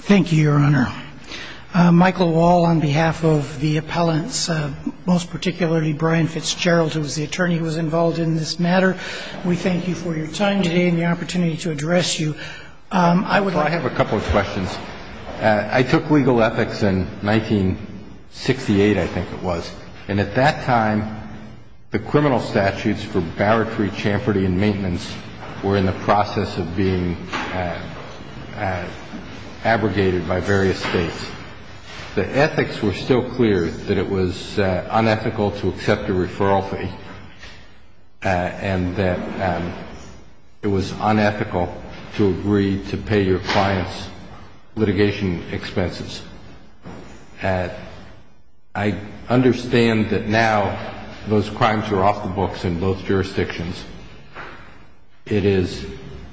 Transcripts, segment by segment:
Thank you, Your Honor. Michael Wall on behalf of the appellants, most particularly Brian Fitzgerald, who was the attorney who was involved in this matter, we thank you for your time today and the opportunity to address you. I have a couple of questions. I took legal ethics in 1968, I think it was, and at that time the criminal statutes for barratry, champerty and maintenance were in the process of being abrogated by various states. The ethics were still clear that it was unethical to accept a referral fee and that it was unethical to agree to pay your clients litigation expenses. I understand that now those crimes are off the books in both jurisdictions. It is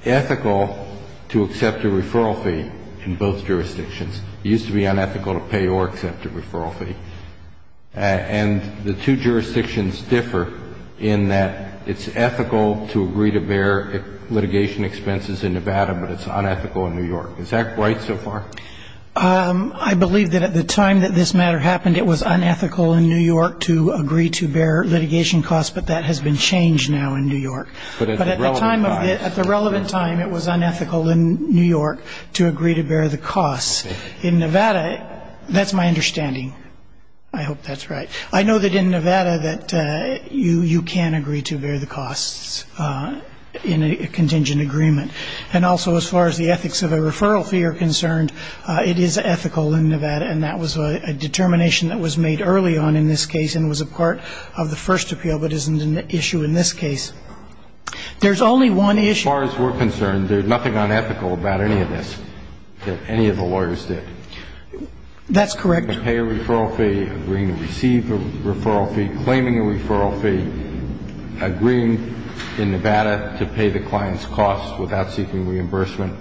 ethical to accept a referral fee in both jurisdictions. It used to be unethical to pay or accept a referral fee. And the two jurisdictions differ in that it's ethical to agree to bear litigation expenses in Nevada, but it's unethical in New York. Is that right so far? I believe that at the time that this matter happened, it was unethical in New York to agree to bear litigation costs, but that has been changed now in New York. But at the relevant time, it was unethical in New York to agree to bear the costs. In Nevada, that's my understanding. I hope that's right. I know that in Nevada that you can agree to bear the costs in a contingent agreement. And also as far as the ethics of a referral fee are concerned, it is ethical in Nevada and that was a determination that was made early on in this case and was a part of the first appeal, but isn't an issue in this case. There's only one issue. As far as we're concerned, there's nothing unethical about any of this, that any of the lawyers did. That's correct. Pay a referral fee, agreeing to receive a referral fee, claiming a referral fee, agreeing in Nevada to pay the client's costs without seeking reimbursement,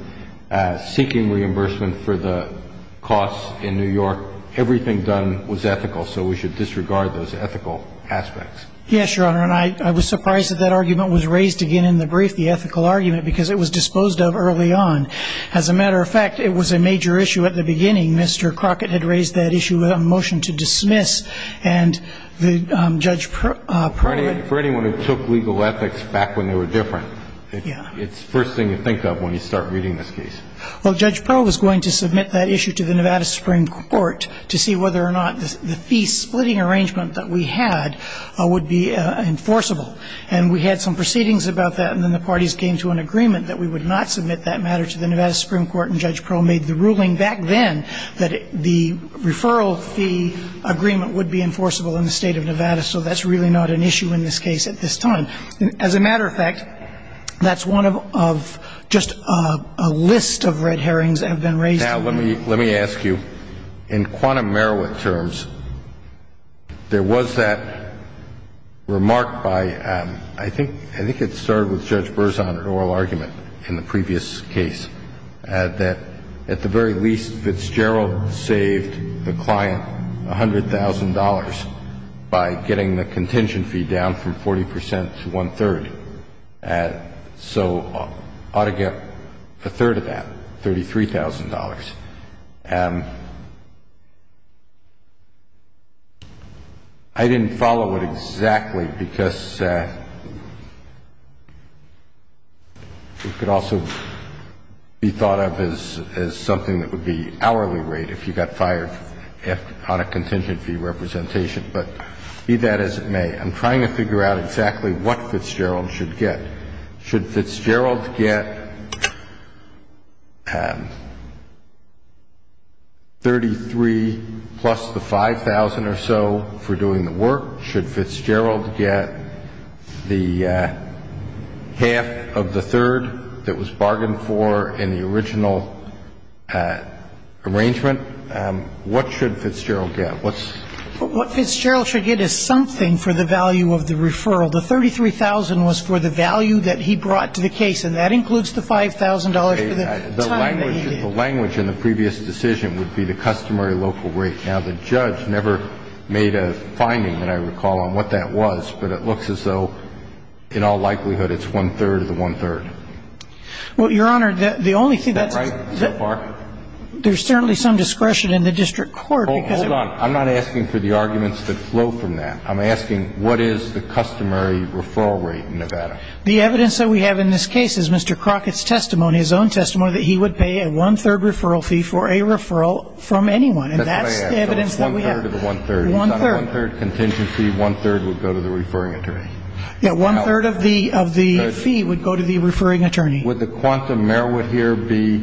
seeking reimbursement for the costs in New York. Everything done was ethical, so we should disregard those ethical aspects. Yes, Your Honor. And I was surprised that that argument was raised again in the brief, the ethical argument, because it was disposed of early on. As a matter of fact, it was a major issue at the beginning. Mr. Crockett had raised that issue with a motion to dismiss and the Judge Prowe had ---- For anyone who took legal ethics back when they were different, it's the first thing you think of when you start reading this case. Well, Judge Prowe was going to submit that issue to the Nevada Supreme Court to see whether or not the fee-splitting arrangement that we had would be enforceable. And we had some proceedings about that, and then the parties came to an agreement that we would not submit that matter to the Nevada Supreme Court, and Judge Prowe made the ruling back then that the referral fee agreement would be enforceable in the State of Nevada. So that's really not an issue in this case at this time. As a matter of fact, that's one of just a list of red herrings that have been raised. Now, let me ask you, in quantum Merowith terms, there was that remark by, I think it started with Judge Berzon in oral argument in the previous case, that at the very least, Fitzgerald saved the client $100,000 by getting the contingent fee down from 40 percent to one-third. So ought to get a third of that, $33,000. I didn't follow it exactly because it could also be thought of as something that would be hourly rate if you got fired on a contingent fee representation, but be that as it may, I'm trying to figure out exactly what Fitzgerald should get. Should Fitzgerald get $33,000 plus the $5,000 or so for doing the work? Should Fitzgerald get the half of the third that was bargained for in the original arrangement? What should Fitzgerald get? What's the value of the deferral? The $33,000 was for the value that he brought to the case, and that includes the $5,000 for the time that he did. The language in the previous decision would be the customary local rate. Now, the judge never made a finding that I recall on what that was, but it looks as though in all likelihood, it's one-third of the one-third. Well, Your Honor, the only thing that's there's certainly some discretion in the I'm asking what is the customary referral rate in Nevada? The evidence that we have in this case is Mr. Crockett's testimony, his own testimony, that he would pay a one-third referral fee for a referral from anyone, and that's the evidence that we have. So it's one-third of the one-third. One-third. It's not a one-third contingency. One-third would go to the referring attorney. Yeah, one-third of the fee would go to the referring attorney. Would the quantum merit here be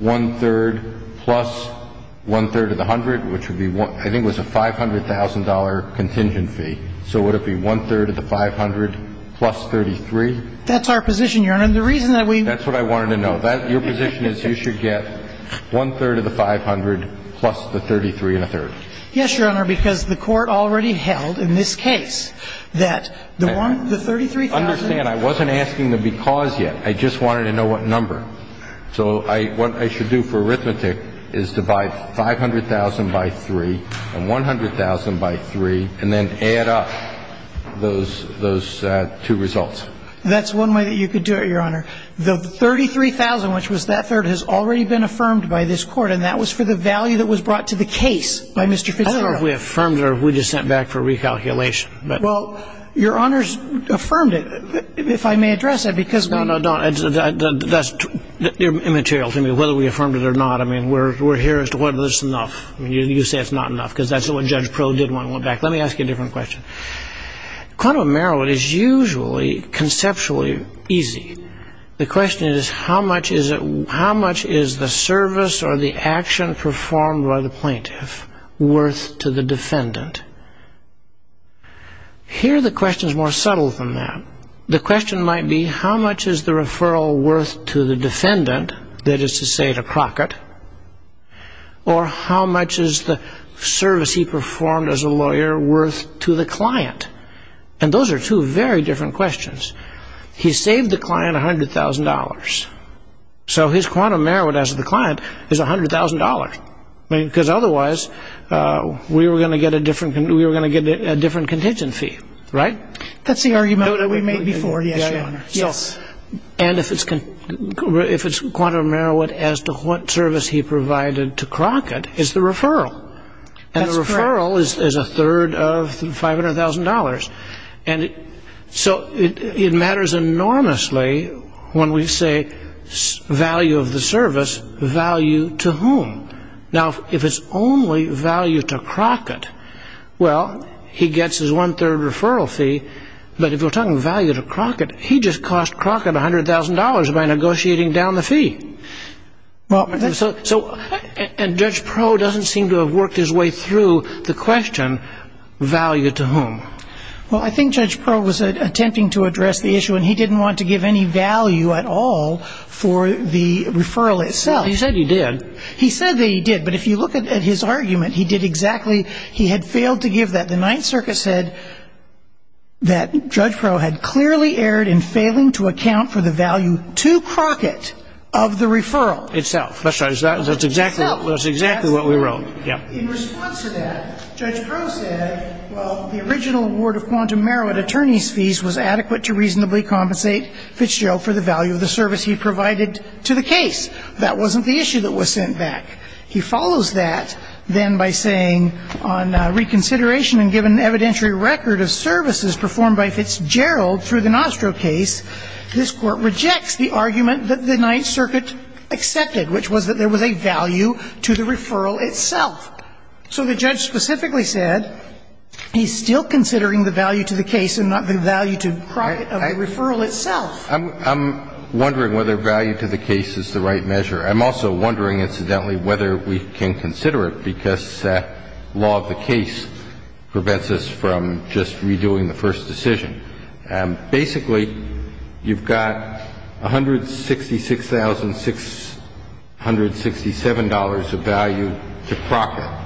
one-third plus one-third of the hundred, which would be, I think it was a $500,000 contingency. So would it be one-third of the 500 plus 33? That's our position, Your Honor. And the reason that we That's what I wanted to know. Your position is you should get one-third of the 500 plus the 33 and a third. Yes, Your Honor, because the Court already held in this case that the one, the 33,000 Understand, I wasn't asking the because yet. I just wanted to know what number. So what I should do for arithmetic is divide 500,000 by three and 100,000 by three and then add up those two results. That's one way that you could do it, Your Honor. The 33,000, which was that third, has already been affirmed by this Court, and that was for the value that was brought to the case by Mr. Fitzgerald. I don't know if we affirmed it or if we just sent it back for recalculation. Well, Your Honor's affirmed it, if I may address that, because No, no, don't. That's immaterial to me, whether we affirmed it or not. I mean, we're here as to whether this is enough. You say it's not enough, because that's what Judge Pro did when I went back. Let me ask you a different question. Quantum of Merit is usually conceptually easy. The question is how much is the service or the action performed by the plaintiff worth to the defendant? Here, the question is more subtle than that. The question might be how much is the referral worth to the defendant, that is to say to Crockett, or how much is the service he performed as a lawyer worth to the client? And those are two very different questions. He saved the client $100,000, so his quantum merit as the client is $100,000, because otherwise we were going to get a different contingent fee, right? That's the argument that we made before, yes, Your Honor. And if it's quantum merit as to what service he provided to Crockett, it's the referral. And the referral is a third of $500,000. And so it matters enormously when we say value of the service, value to whom? Now, if it's only value to Crockett, well, he gets his one-third referral fee. But if we're talking value to Crockett, he just cost Crockett $100,000 by negotiating down the fee. And Judge Proe doesn't seem to have worked his way through the question value to whom. Well, I think Judge Proe was attempting to address the issue, and he didn't want to give any value at all for the referral itself. He said he did. He said that he did. But if you look at his argument, he did exactly he had failed to give that. The Ninth Circuit said that Judge Proe had clearly erred in failing to account for the value to Crockett of the referral. Itself. That's right. That's exactly what we wrote. In response to that, Judge Proe said, well, the original award of quantum merit, attorney's fees, was adequate to reasonably compensate Fitzgerald for the value of the service he provided to the case. That wasn't the issue that was sent back. He follows that, then, by saying on reconsideration and given evidentiary record of services performed by Fitzgerald through the Nostro case, this Court rejects the argument that the Ninth Circuit accepted, which was that there was a value to the referral itself. So the judge specifically said he's still considering the value to the case and not the value to Crockett of the referral itself. I'm wondering whether value to the case is the right measure. I'm also wondering, incidentally, whether we can consider it because law of the case prevents us from just redoing the first decision. Basically, you've got $166,667 of value to Crockett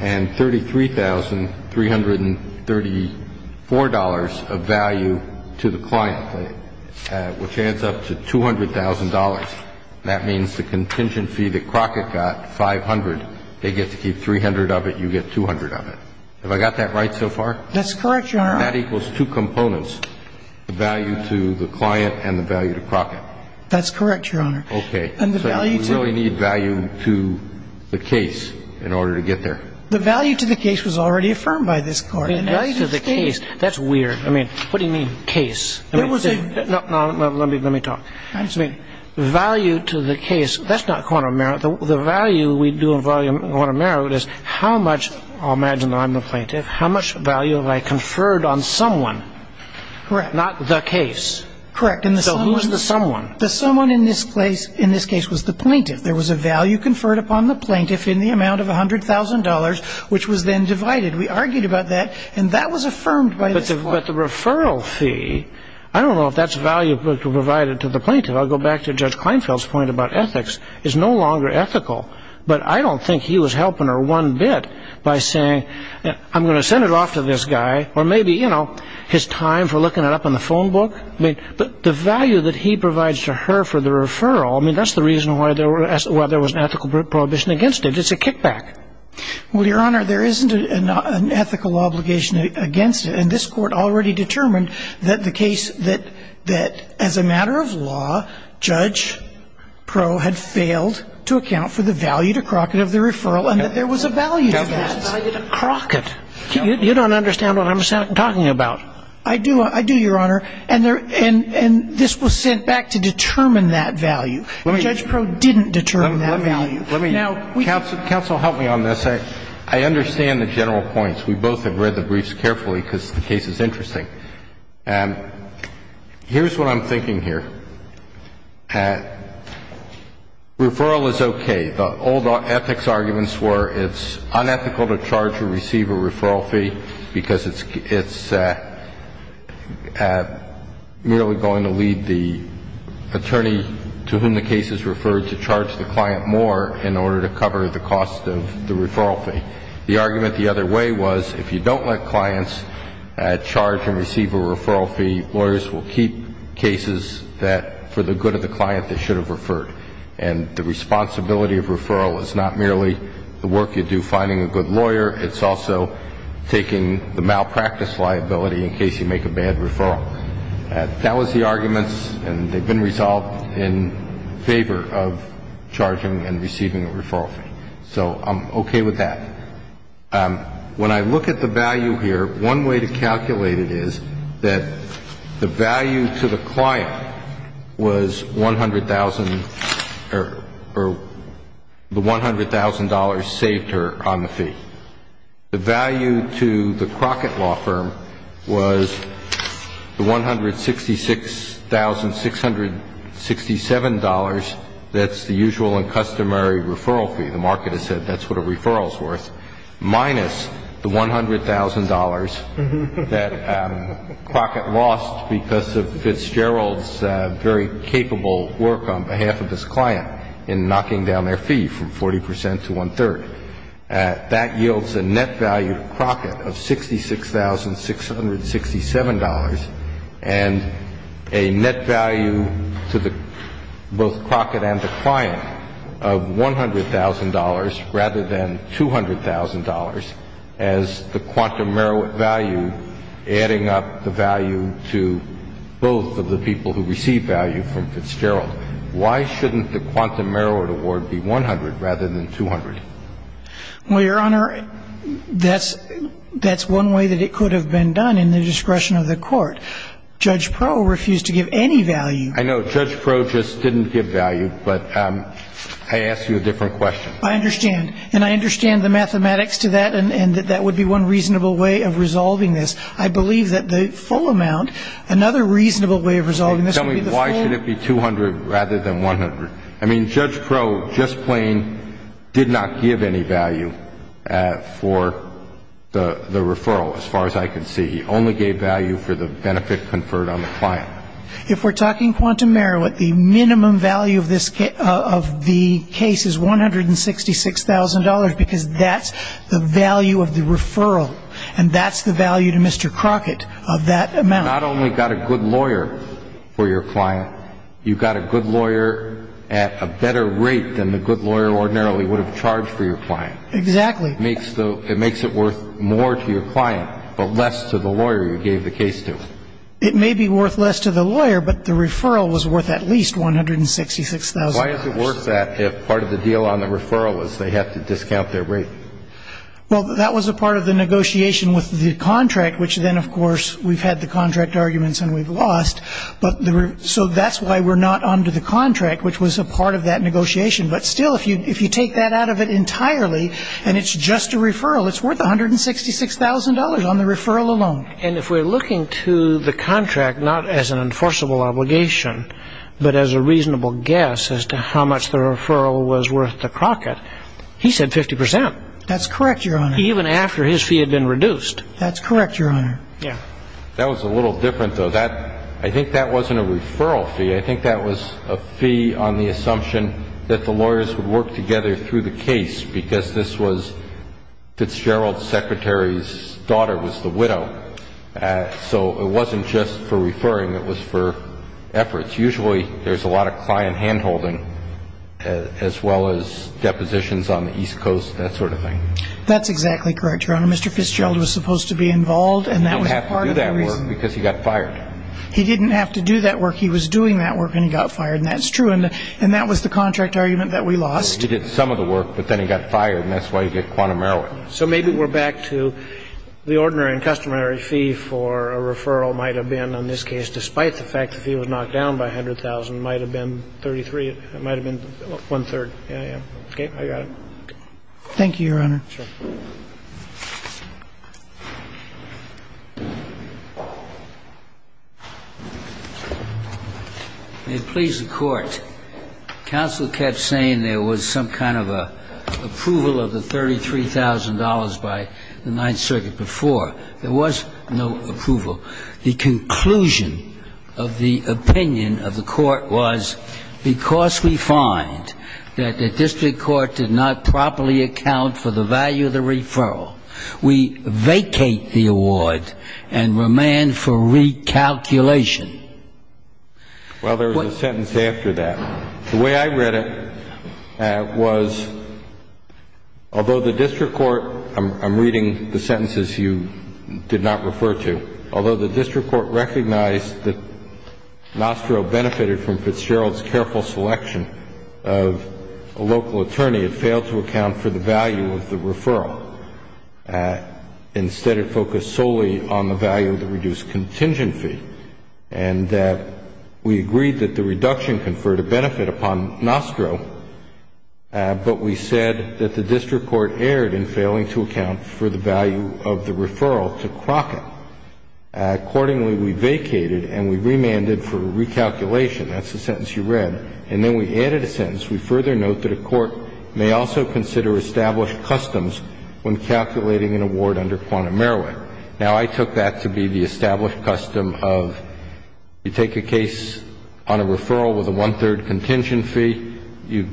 and $33,334 of value to the client. And the value to the client is $166,667, which adds up to $200,000. That means the contingent fee that Crockett got, 500, they get to keep 300 of it, you get 200 of it. Have I got that right so far? That's correct, Your Honor. And that equals two components, the value to the client and the value to Crockett. That's correct, Your Honor. Okay. And the value to the case. So we really need value to the case in order to get there. The value to the case was already affirmed by this Court. The value to the case, that's weird. I mean, what do you mean case? No, let me talk. Value to the case, that's not quantum merit. The value we do in quantum merit is how much, I'll imagine I'm the plaintiff, how much value have I conferred on someone? Correct. Not the case. Correct. So who's the someone? The someone in this case was the plaintiff. There was a value conferred upon the plaintiff in the amount of $100,000, which was then divided. We argued about that, and that was affirmed by this Court. But the referral fee, I don't know if that's value provided to the plaintiff. I'll go back to Judge Kleinfeld's point about ethics. It's no longer ethical. But I don't think he was helping her one bit by saying, I'm going to send it off to this guy, or maybe, you know, his time for looking it up in the phone book. But the value that he provides to her for the referral, I mean, that's the reason why there was an ethical prohibition against it. It's a kickback. Well, Your Honor, there isn't an ethical obligation against it. And this Court already determined that the case that, as a matter of law, Judge Proe had failed to account for the value to Crockett of the referral and that there was a value to that. There was a value to Crockett. You don't understand what I'm talking about. I do, Your Honor. And this was sent back to determine that value. Judge Proe didn't determine that value. Now, we can't do that. Counsel, help me on this. I understand the general points. We both have read the briefs carefully because the case is interesting. Here's what I'm thinking here. Referral is okay. The old ethics arguments were it's unethical to charge or receive a referral fee because it's merely going to lead the attorney to whom the case is referred to charge the client more in order to cover the cost of the referral fee. The argument the other way was if you don't let clients charge and receive a referral fee, lawyers will keep cases that, for the good of the client, they should have referred. And the responsibility of referral is not merely the work you do finding a good lawyer, it's also taking the malpractice liability in case you make a bad referral. That was the arguments, and they've been resolved in favor of charging and receiving a referral fee. So I'm okay with that. When I look at the value here, one way to calculate it is that the value to the client was $100,000 or the $100,000 saved her on the fee. The value to the Crockett Law Firm was the $166,667, that's the usual and customary referral fee, the market has said that's what a referral is worth, minus the $100,000 that Crockett lost because of Fitzgerald's very capable work on behalf of his client in knocking down their fee from 40% to one-third. That yields a net value to Crockett of $66,667, and a net value to both Crockett and the client of $100,000 rather than $200,000, as the quantum merit value adding up the value to both of the people who receive value from Fitzgerald. Why shouldn't the quantum merit award be $100,000 rather than $200,000? Well, Your Honor, that's one way that it could have been done in the discretion of the court. Judge Proh refused to give any value. I know. Judge Proh just didn't give value, but I ask you a different question. I understand. And I understand the mathematics to that and that that would be one reasonable way of resolving this. I believe that the full amount, another reasonable way of resolving this would be the full amount. Tell me, why should it be $200,000 rather than $100,000? I mean, Judge Proh just plain did not give any value for the referral as far as I could see. He only gave value for the benefit conferred on the client. If we're talking quantum merit, the minimum value of the case is $166,000 because that's the value of the referral, and that's the value to Mr. Crockett of that amount. You not only got a good lawyer for your client, you got a good lawyer at a better rate than the good lawyer ordinarily would have charged for your client. Exactly. It makes it worth more to your client, but less to the lawyer you gave the case to. It may be worth less to the lawyer, but the referral was worth at least $166,000. Why is it worth that if part of the deal on the referral was they have to discount their rate? Well, that was a part of the negotiation with the contract, which then, of course, we've had the contract arguments and we've lost. So that's why we're not under the contract, which was a part of that negotiation. But still, if you take that out of it entirely and it's just a referral, it's worth $166,000 on the referral alone. And if we're looking to the contract not as an enforceable obligation, but as a reasonable guess as to how much the referral was worth to Crockett, he said 50%. That's correct, Your Honor. Even after his fee had been reduced. That's correct, Your Honor. Yeah. That was a little different, though. I think that wasn't a referral fee. I think that was a fee on the assumption that the lawyers would work together through the case because Fitzgerald's secretary's daughter was the widow. So it wasn't just for referring. It was for efforts. Usually there's a lot of client hand-holding as well as depositions on the East Coast, that sort of thing. That's exactly correct, Your Honor. Mr. Fitzgerald was supposed to be involved and that was part of the reason. He didn't have to do that work because he got fired. He didn't have to do that work. He was doing that work and he got fired, and that's true. And that was the contract argument that we lost. He did some of the work, but then he got fired, and that's why you get quantum error. So maybe we're back to the ordinary and customary fee for a referral might have been, on this case, despite the fact the fee was knocked down by $100,000, might have been $33,000. It might have been one-third. Yeah, yeah. Okay. I got it. Thank you, Your Honor. Sure. May it please the Court. Counsel kept saying there was some kind of approval of the $33,000 by the Ninth Circuit before. There was no approval. The conclusion of the opinion of the Court was because we find that the district court did not properly account for the value of the referral, we vacate the award and remand for recalculation. Well, there was a sentence after that. The way I read it was, although the district court, I'm reading the sentences you did not refer to, although the district court recognized that Nostro benefited from Fitzgerald's careful selection of a local attorney, it failed to account for the value of the referral. Instead, it focused solely on the value of the reduced contingent fee. And we agreed that the reduction conferred a benefit upon Nostro, but we said that the district court erred in failing to account for the value of the referral to Crockett. Accordingly, we vacated and we remanded for recalculation. That's the sentence you read. And then we added a sentence. We further note that a court may also consider established customs when calculating an award under quantum merit. Now, I took that to be the established custom of you take a case on a referral with a one-third contingent fee, you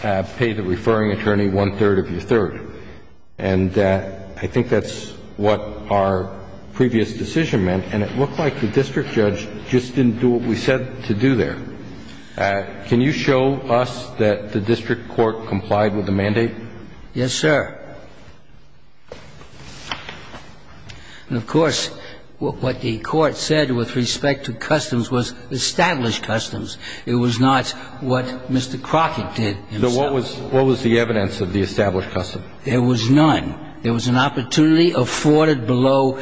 pay the referring attorney one-third of your third. And I think that's what our previous decision meant, and it looked like the district judge just didn't do what we said to do there. Can you show us that the district court complied with the mandate? Yes, sir. And, of course, what the court said with respect to customs was established customs. It was not what Mr. Crockett did himself. So what was the evidence of the established custom? There was none. There was an opportunity afforded below.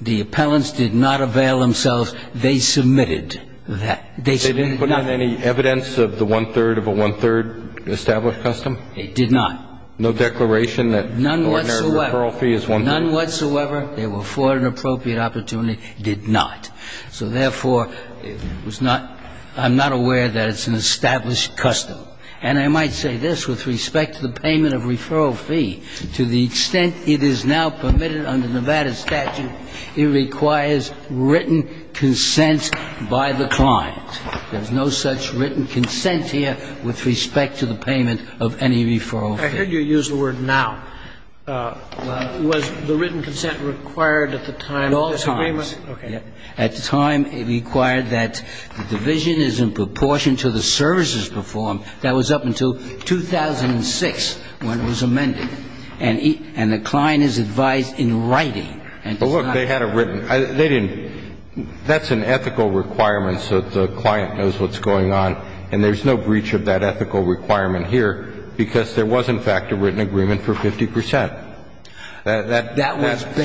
The appellants did not avail themselves. They submitted that. They submitted none. They didn't put in any evidence of the one-third of a one-third established custom? They did not. No declaration that ordinary referral fee is one-third? None whatsoever. They were afforded an appropriate opportunity. Did not. So, therefore, it was not – I'm not aware that it's an established custom. And I might say this with respect to the payment of referral fee. To the extent it is now permitted under Nevada statute, it requires written consent by the client. There is no such written consent here with respect to the payment of any referral fee. I heard you use the word now. Was the written consent required at the time of this agreement? At all times. Okay. At the time it required that the division is in proportion to the services performed. That was up until 2006 when it was amended. And the client is advised in writing. But, look, they had it written. They didn't. That's an ethical requirement so that the client knows what's going on. And there's no breach of that ethical requirement here because there was, in fact, a written agreement for 50 percent. That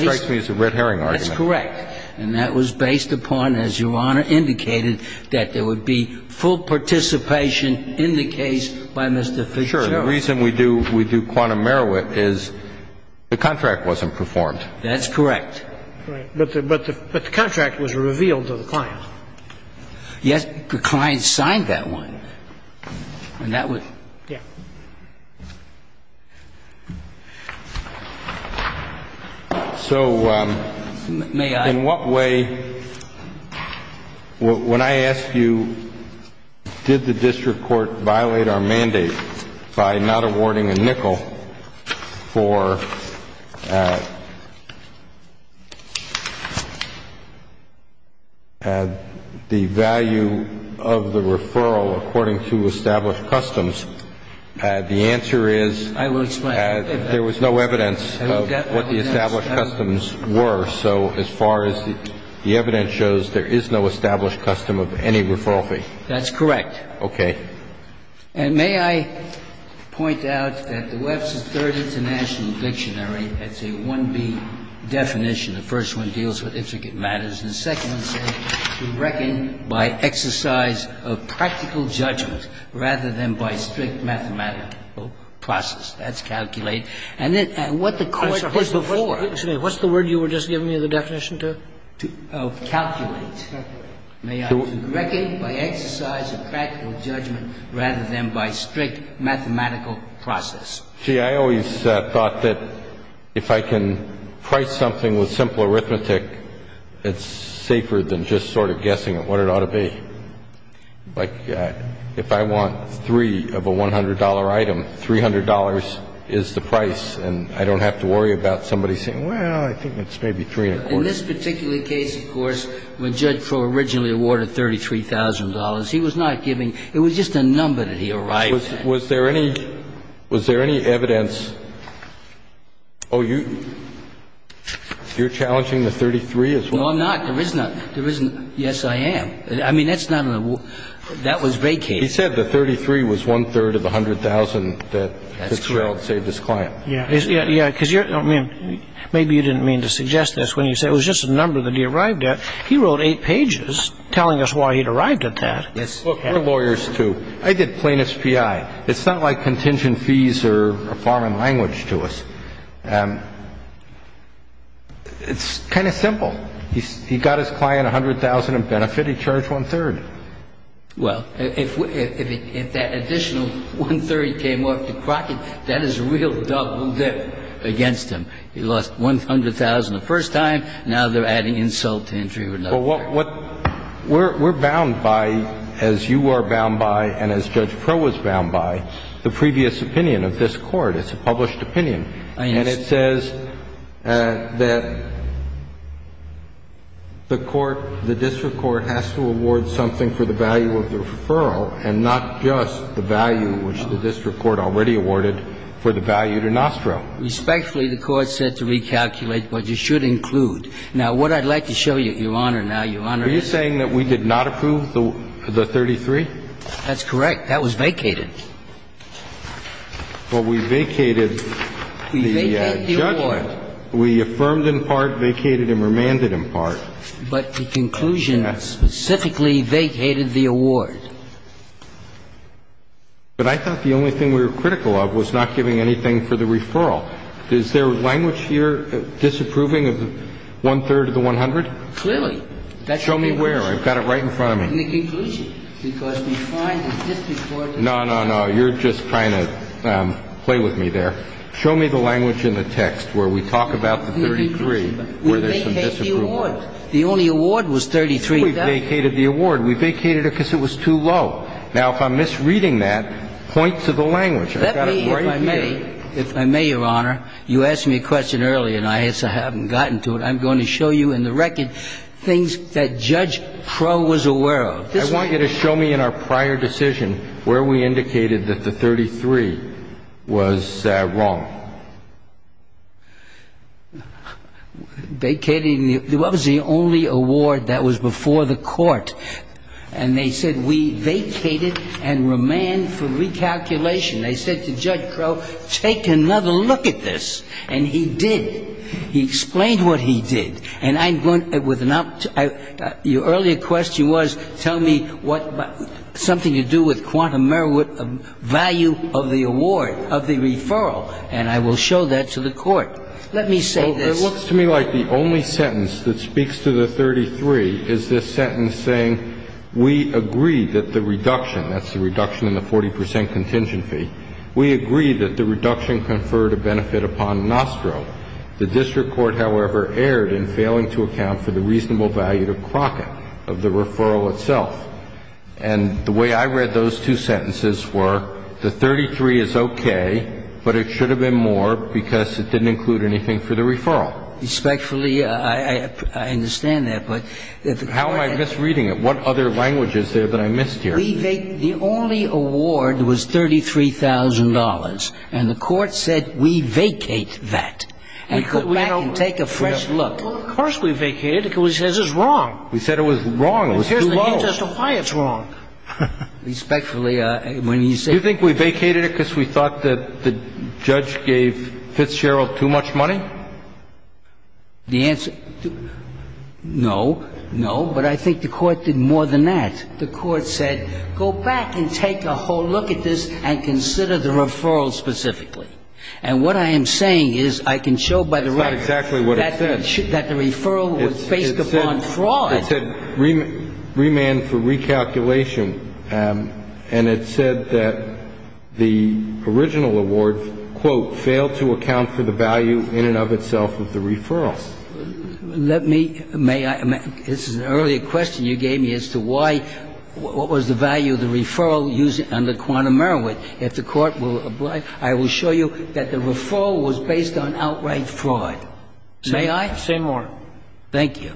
strikes me as a red herring argument. That's correct. And that was based upon, as Your Honor indicated, that there would be full participation in the case by Mr. Fitzgerald. Sure. The reason we do quantum merit is the contract wasn't performed. That's correct. But the contract was revealed to the client. Yes. The client signed that one. And that was. Yeah. So in what way, when I ask you did the district court violate our mandate by not awarding a nickel for the value of the referral according to established customs, the answer is. I will explain. There was no evidence of what the established customs were. So as far as the evidence shows, there is no established custom of any referral That's correct. Okay. And may I point out that the Webster's Third International Dictionary has a 1B definition. The first one deals with intricate matters. The second one says to reckon by exercise of practical judgment rather than by strict mathematical process. That's calculate. And what the court did before. Excuse me. What's the word you were just giving me the definition to? Calculate. Correct. May I correct it? By exercise of practical judgment rather than by strict mathematical process. See, I always thought that if I can price something with simple arithmetic, it's safer than just sort of guessing what it ought to be. Like if I want three of a $100 item, $300 is the price. And I don't have to worry about somebody saying, well, I think it's maybe three and a quarter. In this particular case, of course, when Judge Crowe originally awarded $33,000, he was not giving. It was just a number that he arrived at. Was there any evidence? Oh, you're challenging the 33 as well? No, I'm not. There isn't. Yes, I am. I mean, that's not an award. That was vacated. He said the 33 was one-third of the $100,000 that Fitzgerald saved his client. That's correct. Yeah, because maybe you didn't mean to suggest this when you said it was just a number that he arrived at. He wrote eight pages telling us why he'd arrived at that. Look, we're lawyers too. I did plaintiff's PI. It's not like contingent fees are a foreign language to us. It's kind of simple. He got his client $100,000 in benefit. He charged one-third. Well, if that additional one-third came off to Crockett, that is a real double dip against him. He lost $100,000 the first time. Now they're adding insult to injury. Well, what we're bound by, as you are bound by and as Judge Crowe was bound by, the previous opinion of this Court. It's a published opinion. And it says that the Court, the district court has to award something for the value of the referral and not just the value, which the district court already awarded, for the value to Nostro. Respectfully, the Court said to recalculate what you should include. Now, what I'd like to show you, Your Honor, now, Your Honor. Are you saying that we did not approve the 33? That's correct. That was vacated. Well, we vacated the judgment. We vacated the award. We affirmed in part, vacated and remanded in part. But the conclusion specifically vacated the award. But I thought the only thing we were critical of was not giving anything for the referral. Is there language here disapproving of one-third of the $100,000? Clearly. Show me where. I've got it right in front of me. In the conclusion. We vacated the award. We vacated the award. We vacated it because it was too low. Now, if I'm misreading that, point to the language. I've got it right here. Let me, if I may. If I may, Your Honor. You asked me a question earlier, and I haven't gotten to it. I'm going to show you in the record things that Judge Crow was aware of. I want you to show me. I want you to show me. I want you to show me. I want you to show me in our prior decision where we indicated that the $33,000 was wrong. Vacating. That was the only award that was before the Court. And they said we vacated and remanded for recalculation. They said to Judge Crow, take another look at this. And he did. He explained what he did. And I'm going to, with an, your earlier question was, tell me what, something to do with quantum merit, value of the award, of the referral. And I will show that to the Court. Let me say this. It looks to me like the only sentence that speaks to the 33 is this sentence saying, we agree that the reduction, that's the reduction in the 40 percent contingent fee, we agree that the reduction conferred a benefit upon Nostro. The district court, however, erred in failing to account for the reasonable value to Crockett of the referral itself. And the way I read those two sentences were the 33 is okay, but it should have been more because it didn't include anything for the referral. Respectfully, I understand that. How am I misreading it? What other language is there that I missed here? The only award was $33,000. And the Court said we vacate that and go back and take a fresh look. Well, of course we vacated it because we said it was wrong. We said it was wrong. It was too low. Here's the reason as to why it's wrong. Respectfully, when he said that. Do you think we vacated it because we thought that the judge gave Fitzgerald too much money? The answer, no, no. But I think the Court did more than that. The Court said go back and take a whole look at this and consider the referral specifically. And what I am saying is I can show by the record. That's not exactly what it said. That the referral was based upon fraud. It said remand for recalculation. And it said that the original award, quote, failed to account for the value in and of itself of the referral. Let me, may I? This is an earlier question you gave me as to why, what was the value of the referral used under quantum merriment. If the Court will oblige, I will show you that the referral was based on outright fraud. May I? Say more. Thank you.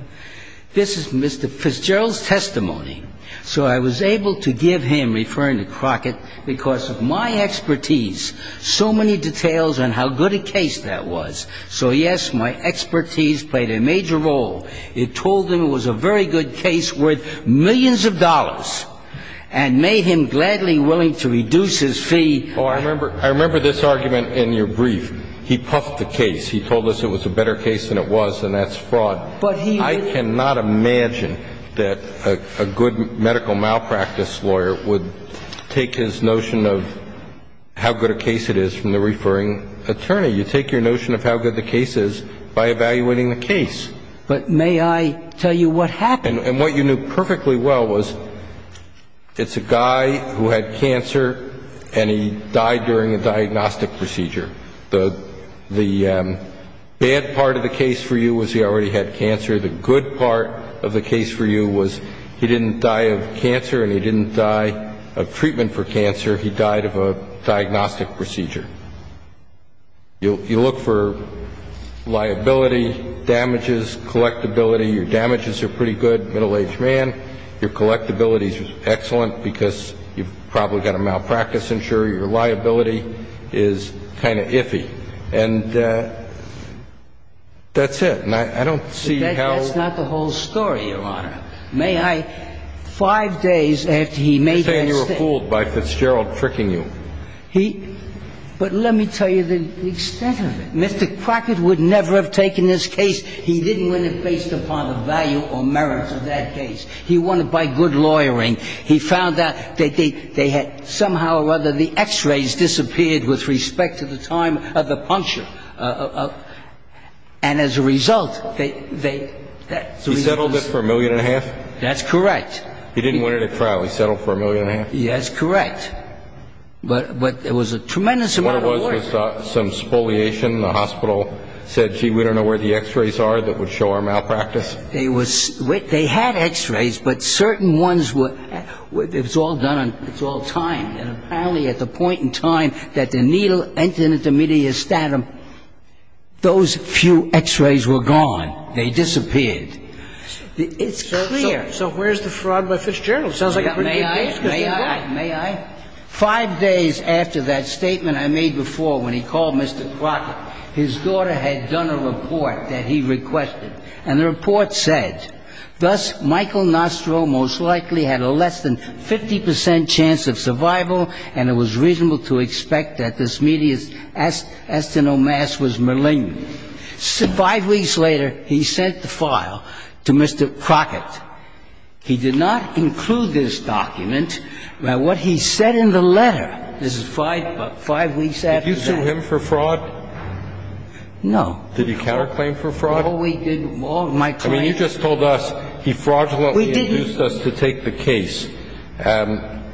This is Mr. Fitzgerald's testimony. So I was able to give him, referring to Crockett, because of my expertise, so many details on how good a case that was. So, yes, my expertise played a major role. It told him it was a very good case worth millions of dollars and made him gladly willing to reduce his fee. Oh, I remember this argument in your brief. He puffed the case. He told us it was a better case than it was and that's fraud. I cannot imagine that a good medical malpractice lawyer would take his notion of how good a case it is from the referring attorney. You take your notion of how good the case is by evaluating the case. But may I tell you what happened? And what you knew perfectly well was it's a guy who had cancer and he died during a diagnostic procedure. The bad part of the case for you was he already had cancer. The good part of the case for you was he didn't die of cancer and he didn't die of treatment for cancer. He died of a diagnostic procedure. You look for liability, damages, collectability. Your damages are pretty good, middle-aged man. Your collectability is excellent because you've probably got a malpractice injury. Your liability is kind of iffy. And that's it. And I don't see how. That's not the whole story, Your Honor. May I? Five days after he made that statement. You're saying you were fooled by Fitzgerald tricking you. But let me tell you the extent of it. Mr. Crockett would never have taken this case. He didn't win it based upon the value or merit of that case. He won it by good lawyering. He found out that they had somehow or other the x-rays disappeared with respect to the time of the puncture. And as a result, they. He settled it for a million and a half? That's correct. He didn't win it at trial. He settled for a million and a half? That's correct. But it was a tremendous amount of work. What it was was some spoliation. The hospital said, gee, we don't know where the x-rays are that would show our malpractice. They had x-rays, but certain ones were. It was all done on. It's all timed. And apparently at the point in time that the needle entered the medial statum, those few x-rays were gone. They disappeared. It's clear. Sounds like a pretty good case. May I? May I? Five days after that statement I made before when he called Mr. Crockett, his daughter had done a report that he requested. And the report said, thus, Michael Nostro most likely had a less than 50 percent chance of survival, and it was reasonable to expect that this medial estinomass was malignant. Five weeks later, he sent the file to Mr. Crockett. He did not include this document. Now, what he said in the letter, this is five weeks after that. Did you sue him for fraud? No. Did you counterclaim for fraud? Well, we did. Well, my client. I mean, you just told us he fraudulently induced us to take the case.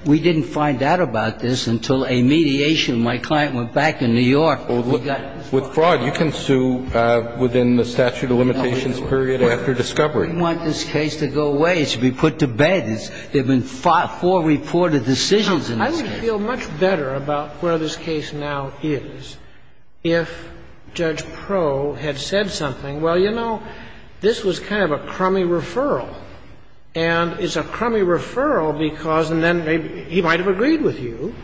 We didn't find out about this until a mediation. My client went back to New York. With fraud, you can sue within the statute of limitations period after discovery. I didn't want this case to go away. It should be put to bed. There have been four reported decisions in this case. I would feel much better about where this case now is if Judge Proe had said something, well, you know, this was kind of a crummy referral, and it's a crummy referral because then he might have agreed with you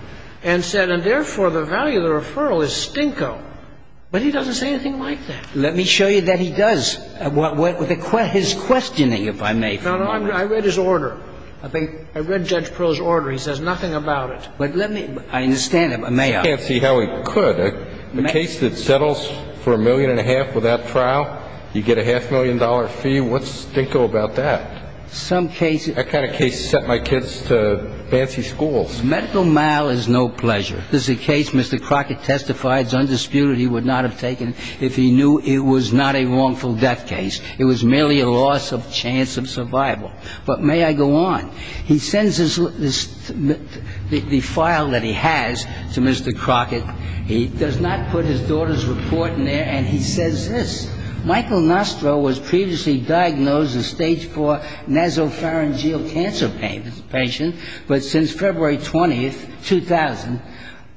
and said, and therefore the value of the referral is stinko. But he doesn't say anything like that. Let me show you that he does. His questioning, if I may. No, no. I read his order. I read Judge Proe's order. He says nothing about it. But let me. I understand. May I? I can't see how he could. A case that settles for a million and a half without trial, you get a half million dollar fee. What's stinko about that? Some cases. That kind of case sent my kids to fancy schools. Medical mal is no pleasure. This is a case Mr. Crockett testified is undisputed he would not have taken if he knew it was not a wrongful death case. It was merely a loss of chance of survival. But may I go on? He sends the file that he has to Mr. Crockett. He does not put his daughter's report in there, and he says this. Michael Nostro was previously diagnosed as stage 4 nasopharyngeal cancer patient, but since February 20th, 2000,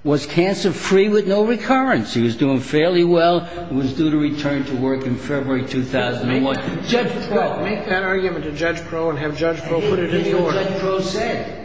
was cancer free with no recurrence. He was doing fairly well and was due to return to work in February 2001. Judge Proe. Make that argument to Judge Proe and have Judge Proe put it into order.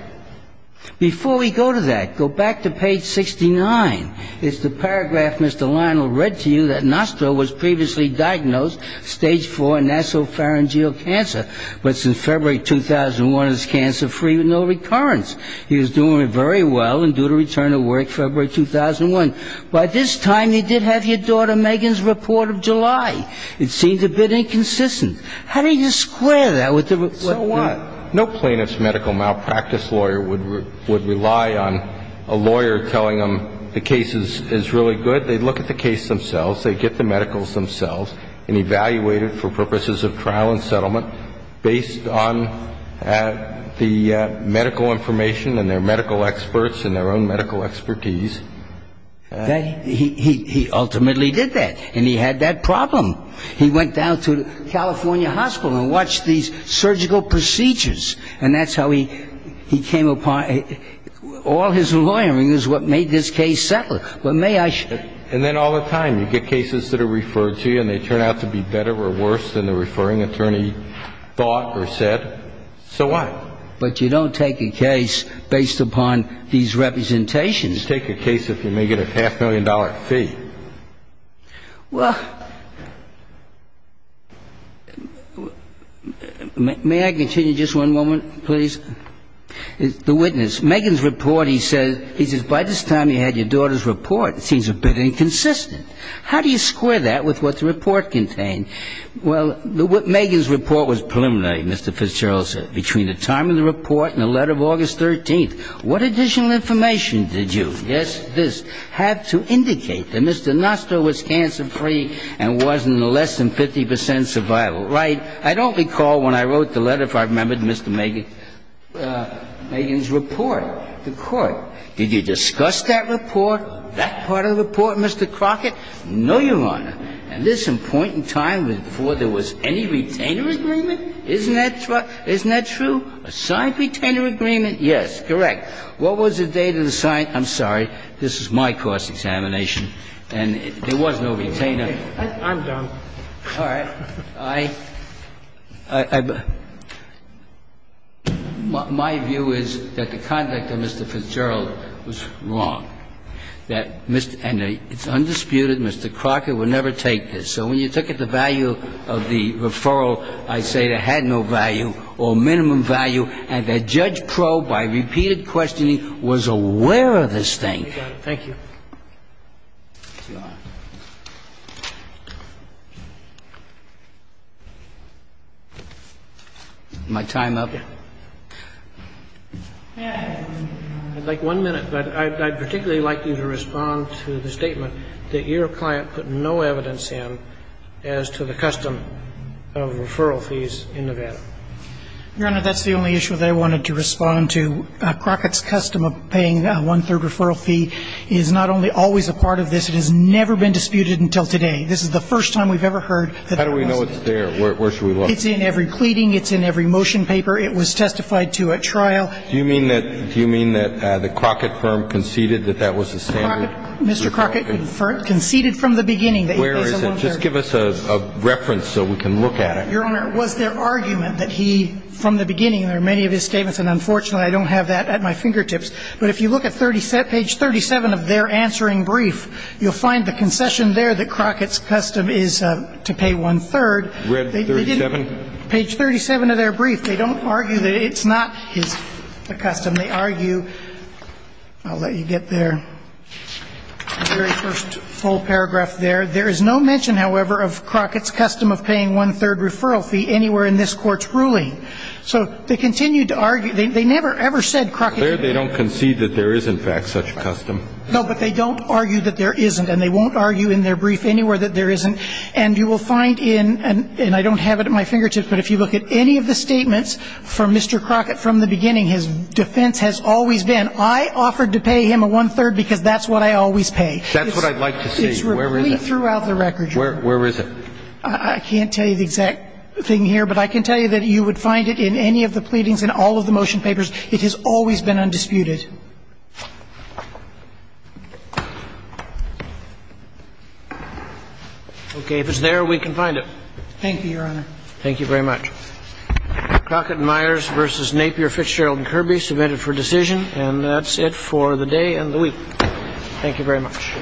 Before we go to that, go back to page 69. It's the paragraph Mr. Lionel read to you that Nostro was previously diagnosed stage 4 nasopharyngeal cancer, but since February 2001, is cancer free with no recurrence. He was doing very well and due to return to work February 2001. By this time, you did have your daughter Megan's report of July. It seems a bit inconsistent. How do you square that with the report? So what? No plaintiff's medical malpractice lawyer would rely on a lawyer telling them the case is really good. They'd look at the case themselves. They'd get the medicals themselves and evaluate it for purposes of trial and settlement based on the medical information and their medical experts and their own medical expertise. He ultimately did that, and he had that problem. He went down to the California hospital and watched these surgical procedures, and that's how he came upon it. All his lawyering is what made this case settled. And then all the time you get cases that are referred to you and they turn out to be better or worse than the referring attorney thought or said. So what? But you don't take a case based upon these representations. You take a case if you may get a half-million-dollar fee. Well, may I continue just one moment, please? The witness, Megan's report, he says, by this time you had your daughter's report, it seems a bit inconsistent. How do you square that with what the report contained? Well, Megan's report was preliminary, Mr. Fitzgerald said, between the time of the report and the letter of August 13th. What additional information did you, yes, this, have to indicate that Mr. Nostra was cancer-free and was in a less than 50 percent survival? Right. I don't recall when I wrote the letter if I remembered Mr. Megan's report to court. Did you discuss that report, that part of the report, Mr. Crockett? No, Your Honor. At this important time before there was any retainer agreement? Isn't that true? Isn't that true? A signed retainer agreement? Yes, correct. What was the date of the signed? I'm sorry. This is my cross-examination, and there was no retainer. I'm done. All right. My view is that the conduct of Mr. Fitzgerald was wrong, that Mr. and it's undisputed Mr. Crockett would never take this. So when you look at the value of the referral, I say it had no value or minimum value and that Judge Crowe, by repeated questioning, was aware of this thing. Thank you. My time up. I'd like one minute, but I'd particularly like you to respond to the statement that your client put no evidence in as to the custom of referral fees in Nevada. Your Honor, that's the only issue that I wanted to respond to. Mr. Crockett's custom of paying a one-third referral fee is not only always a part of this, it has never been disputed until today. This is the first time we've ever heard that that was there. How do we know it's there? Where should we look? It's in every pleading. It's in every motion paper. It was testified to at trial. Do you mean that the Crockett firm conceded that that was the standard? Mr. Crockett conceded from the beginning that it was a one-third. Where is it? Just give us a reference so we can look at it. Your Honor, it was their argument that he, from the beginning, there are many of his statements, and unfortunately, I don't have that at my fingertips. But if you look at page 37 of their answering brief, you'll find the concession there that Crockett's custom is to pay one-third. Page 37? Page 37 of their brief. They don't argue that it's not the custom. They argue, I'll let you get there, the very first full paragraph there. There is no mention, however, of Crockett's custom of paying one-third referral fee anywhere in this Court's ruling. So they continued to argue. They never, ever said Crockett. They don't concede that there is, in fact, such a custom. No, but they don't argue that there isn't. And they won't argue in their brief anywhere that there isn't. And you will find in, and I don't have it at my fingertips, but if you look at any of the statements from Mr. Crockett from the beginning, his defense has always been, I offered to pay him a one-third because that's what I always pay. That's what I'd like to see. Where is it? It's repeated throughout the record, Your Honor. Where is it? I can't tell you the exact thing here, but I can tell you that you would find it in any of the pleadings and all of the motion papers. It has always been undisputed. Okay. If it's there, we can find it. Thank you, Your Honor. Thank you very much. Crockett and Myers v. Napier, Fitch, Sherald and Kirby, submitted for decision. And that's it for the day and the week. Thank you very much. All rise.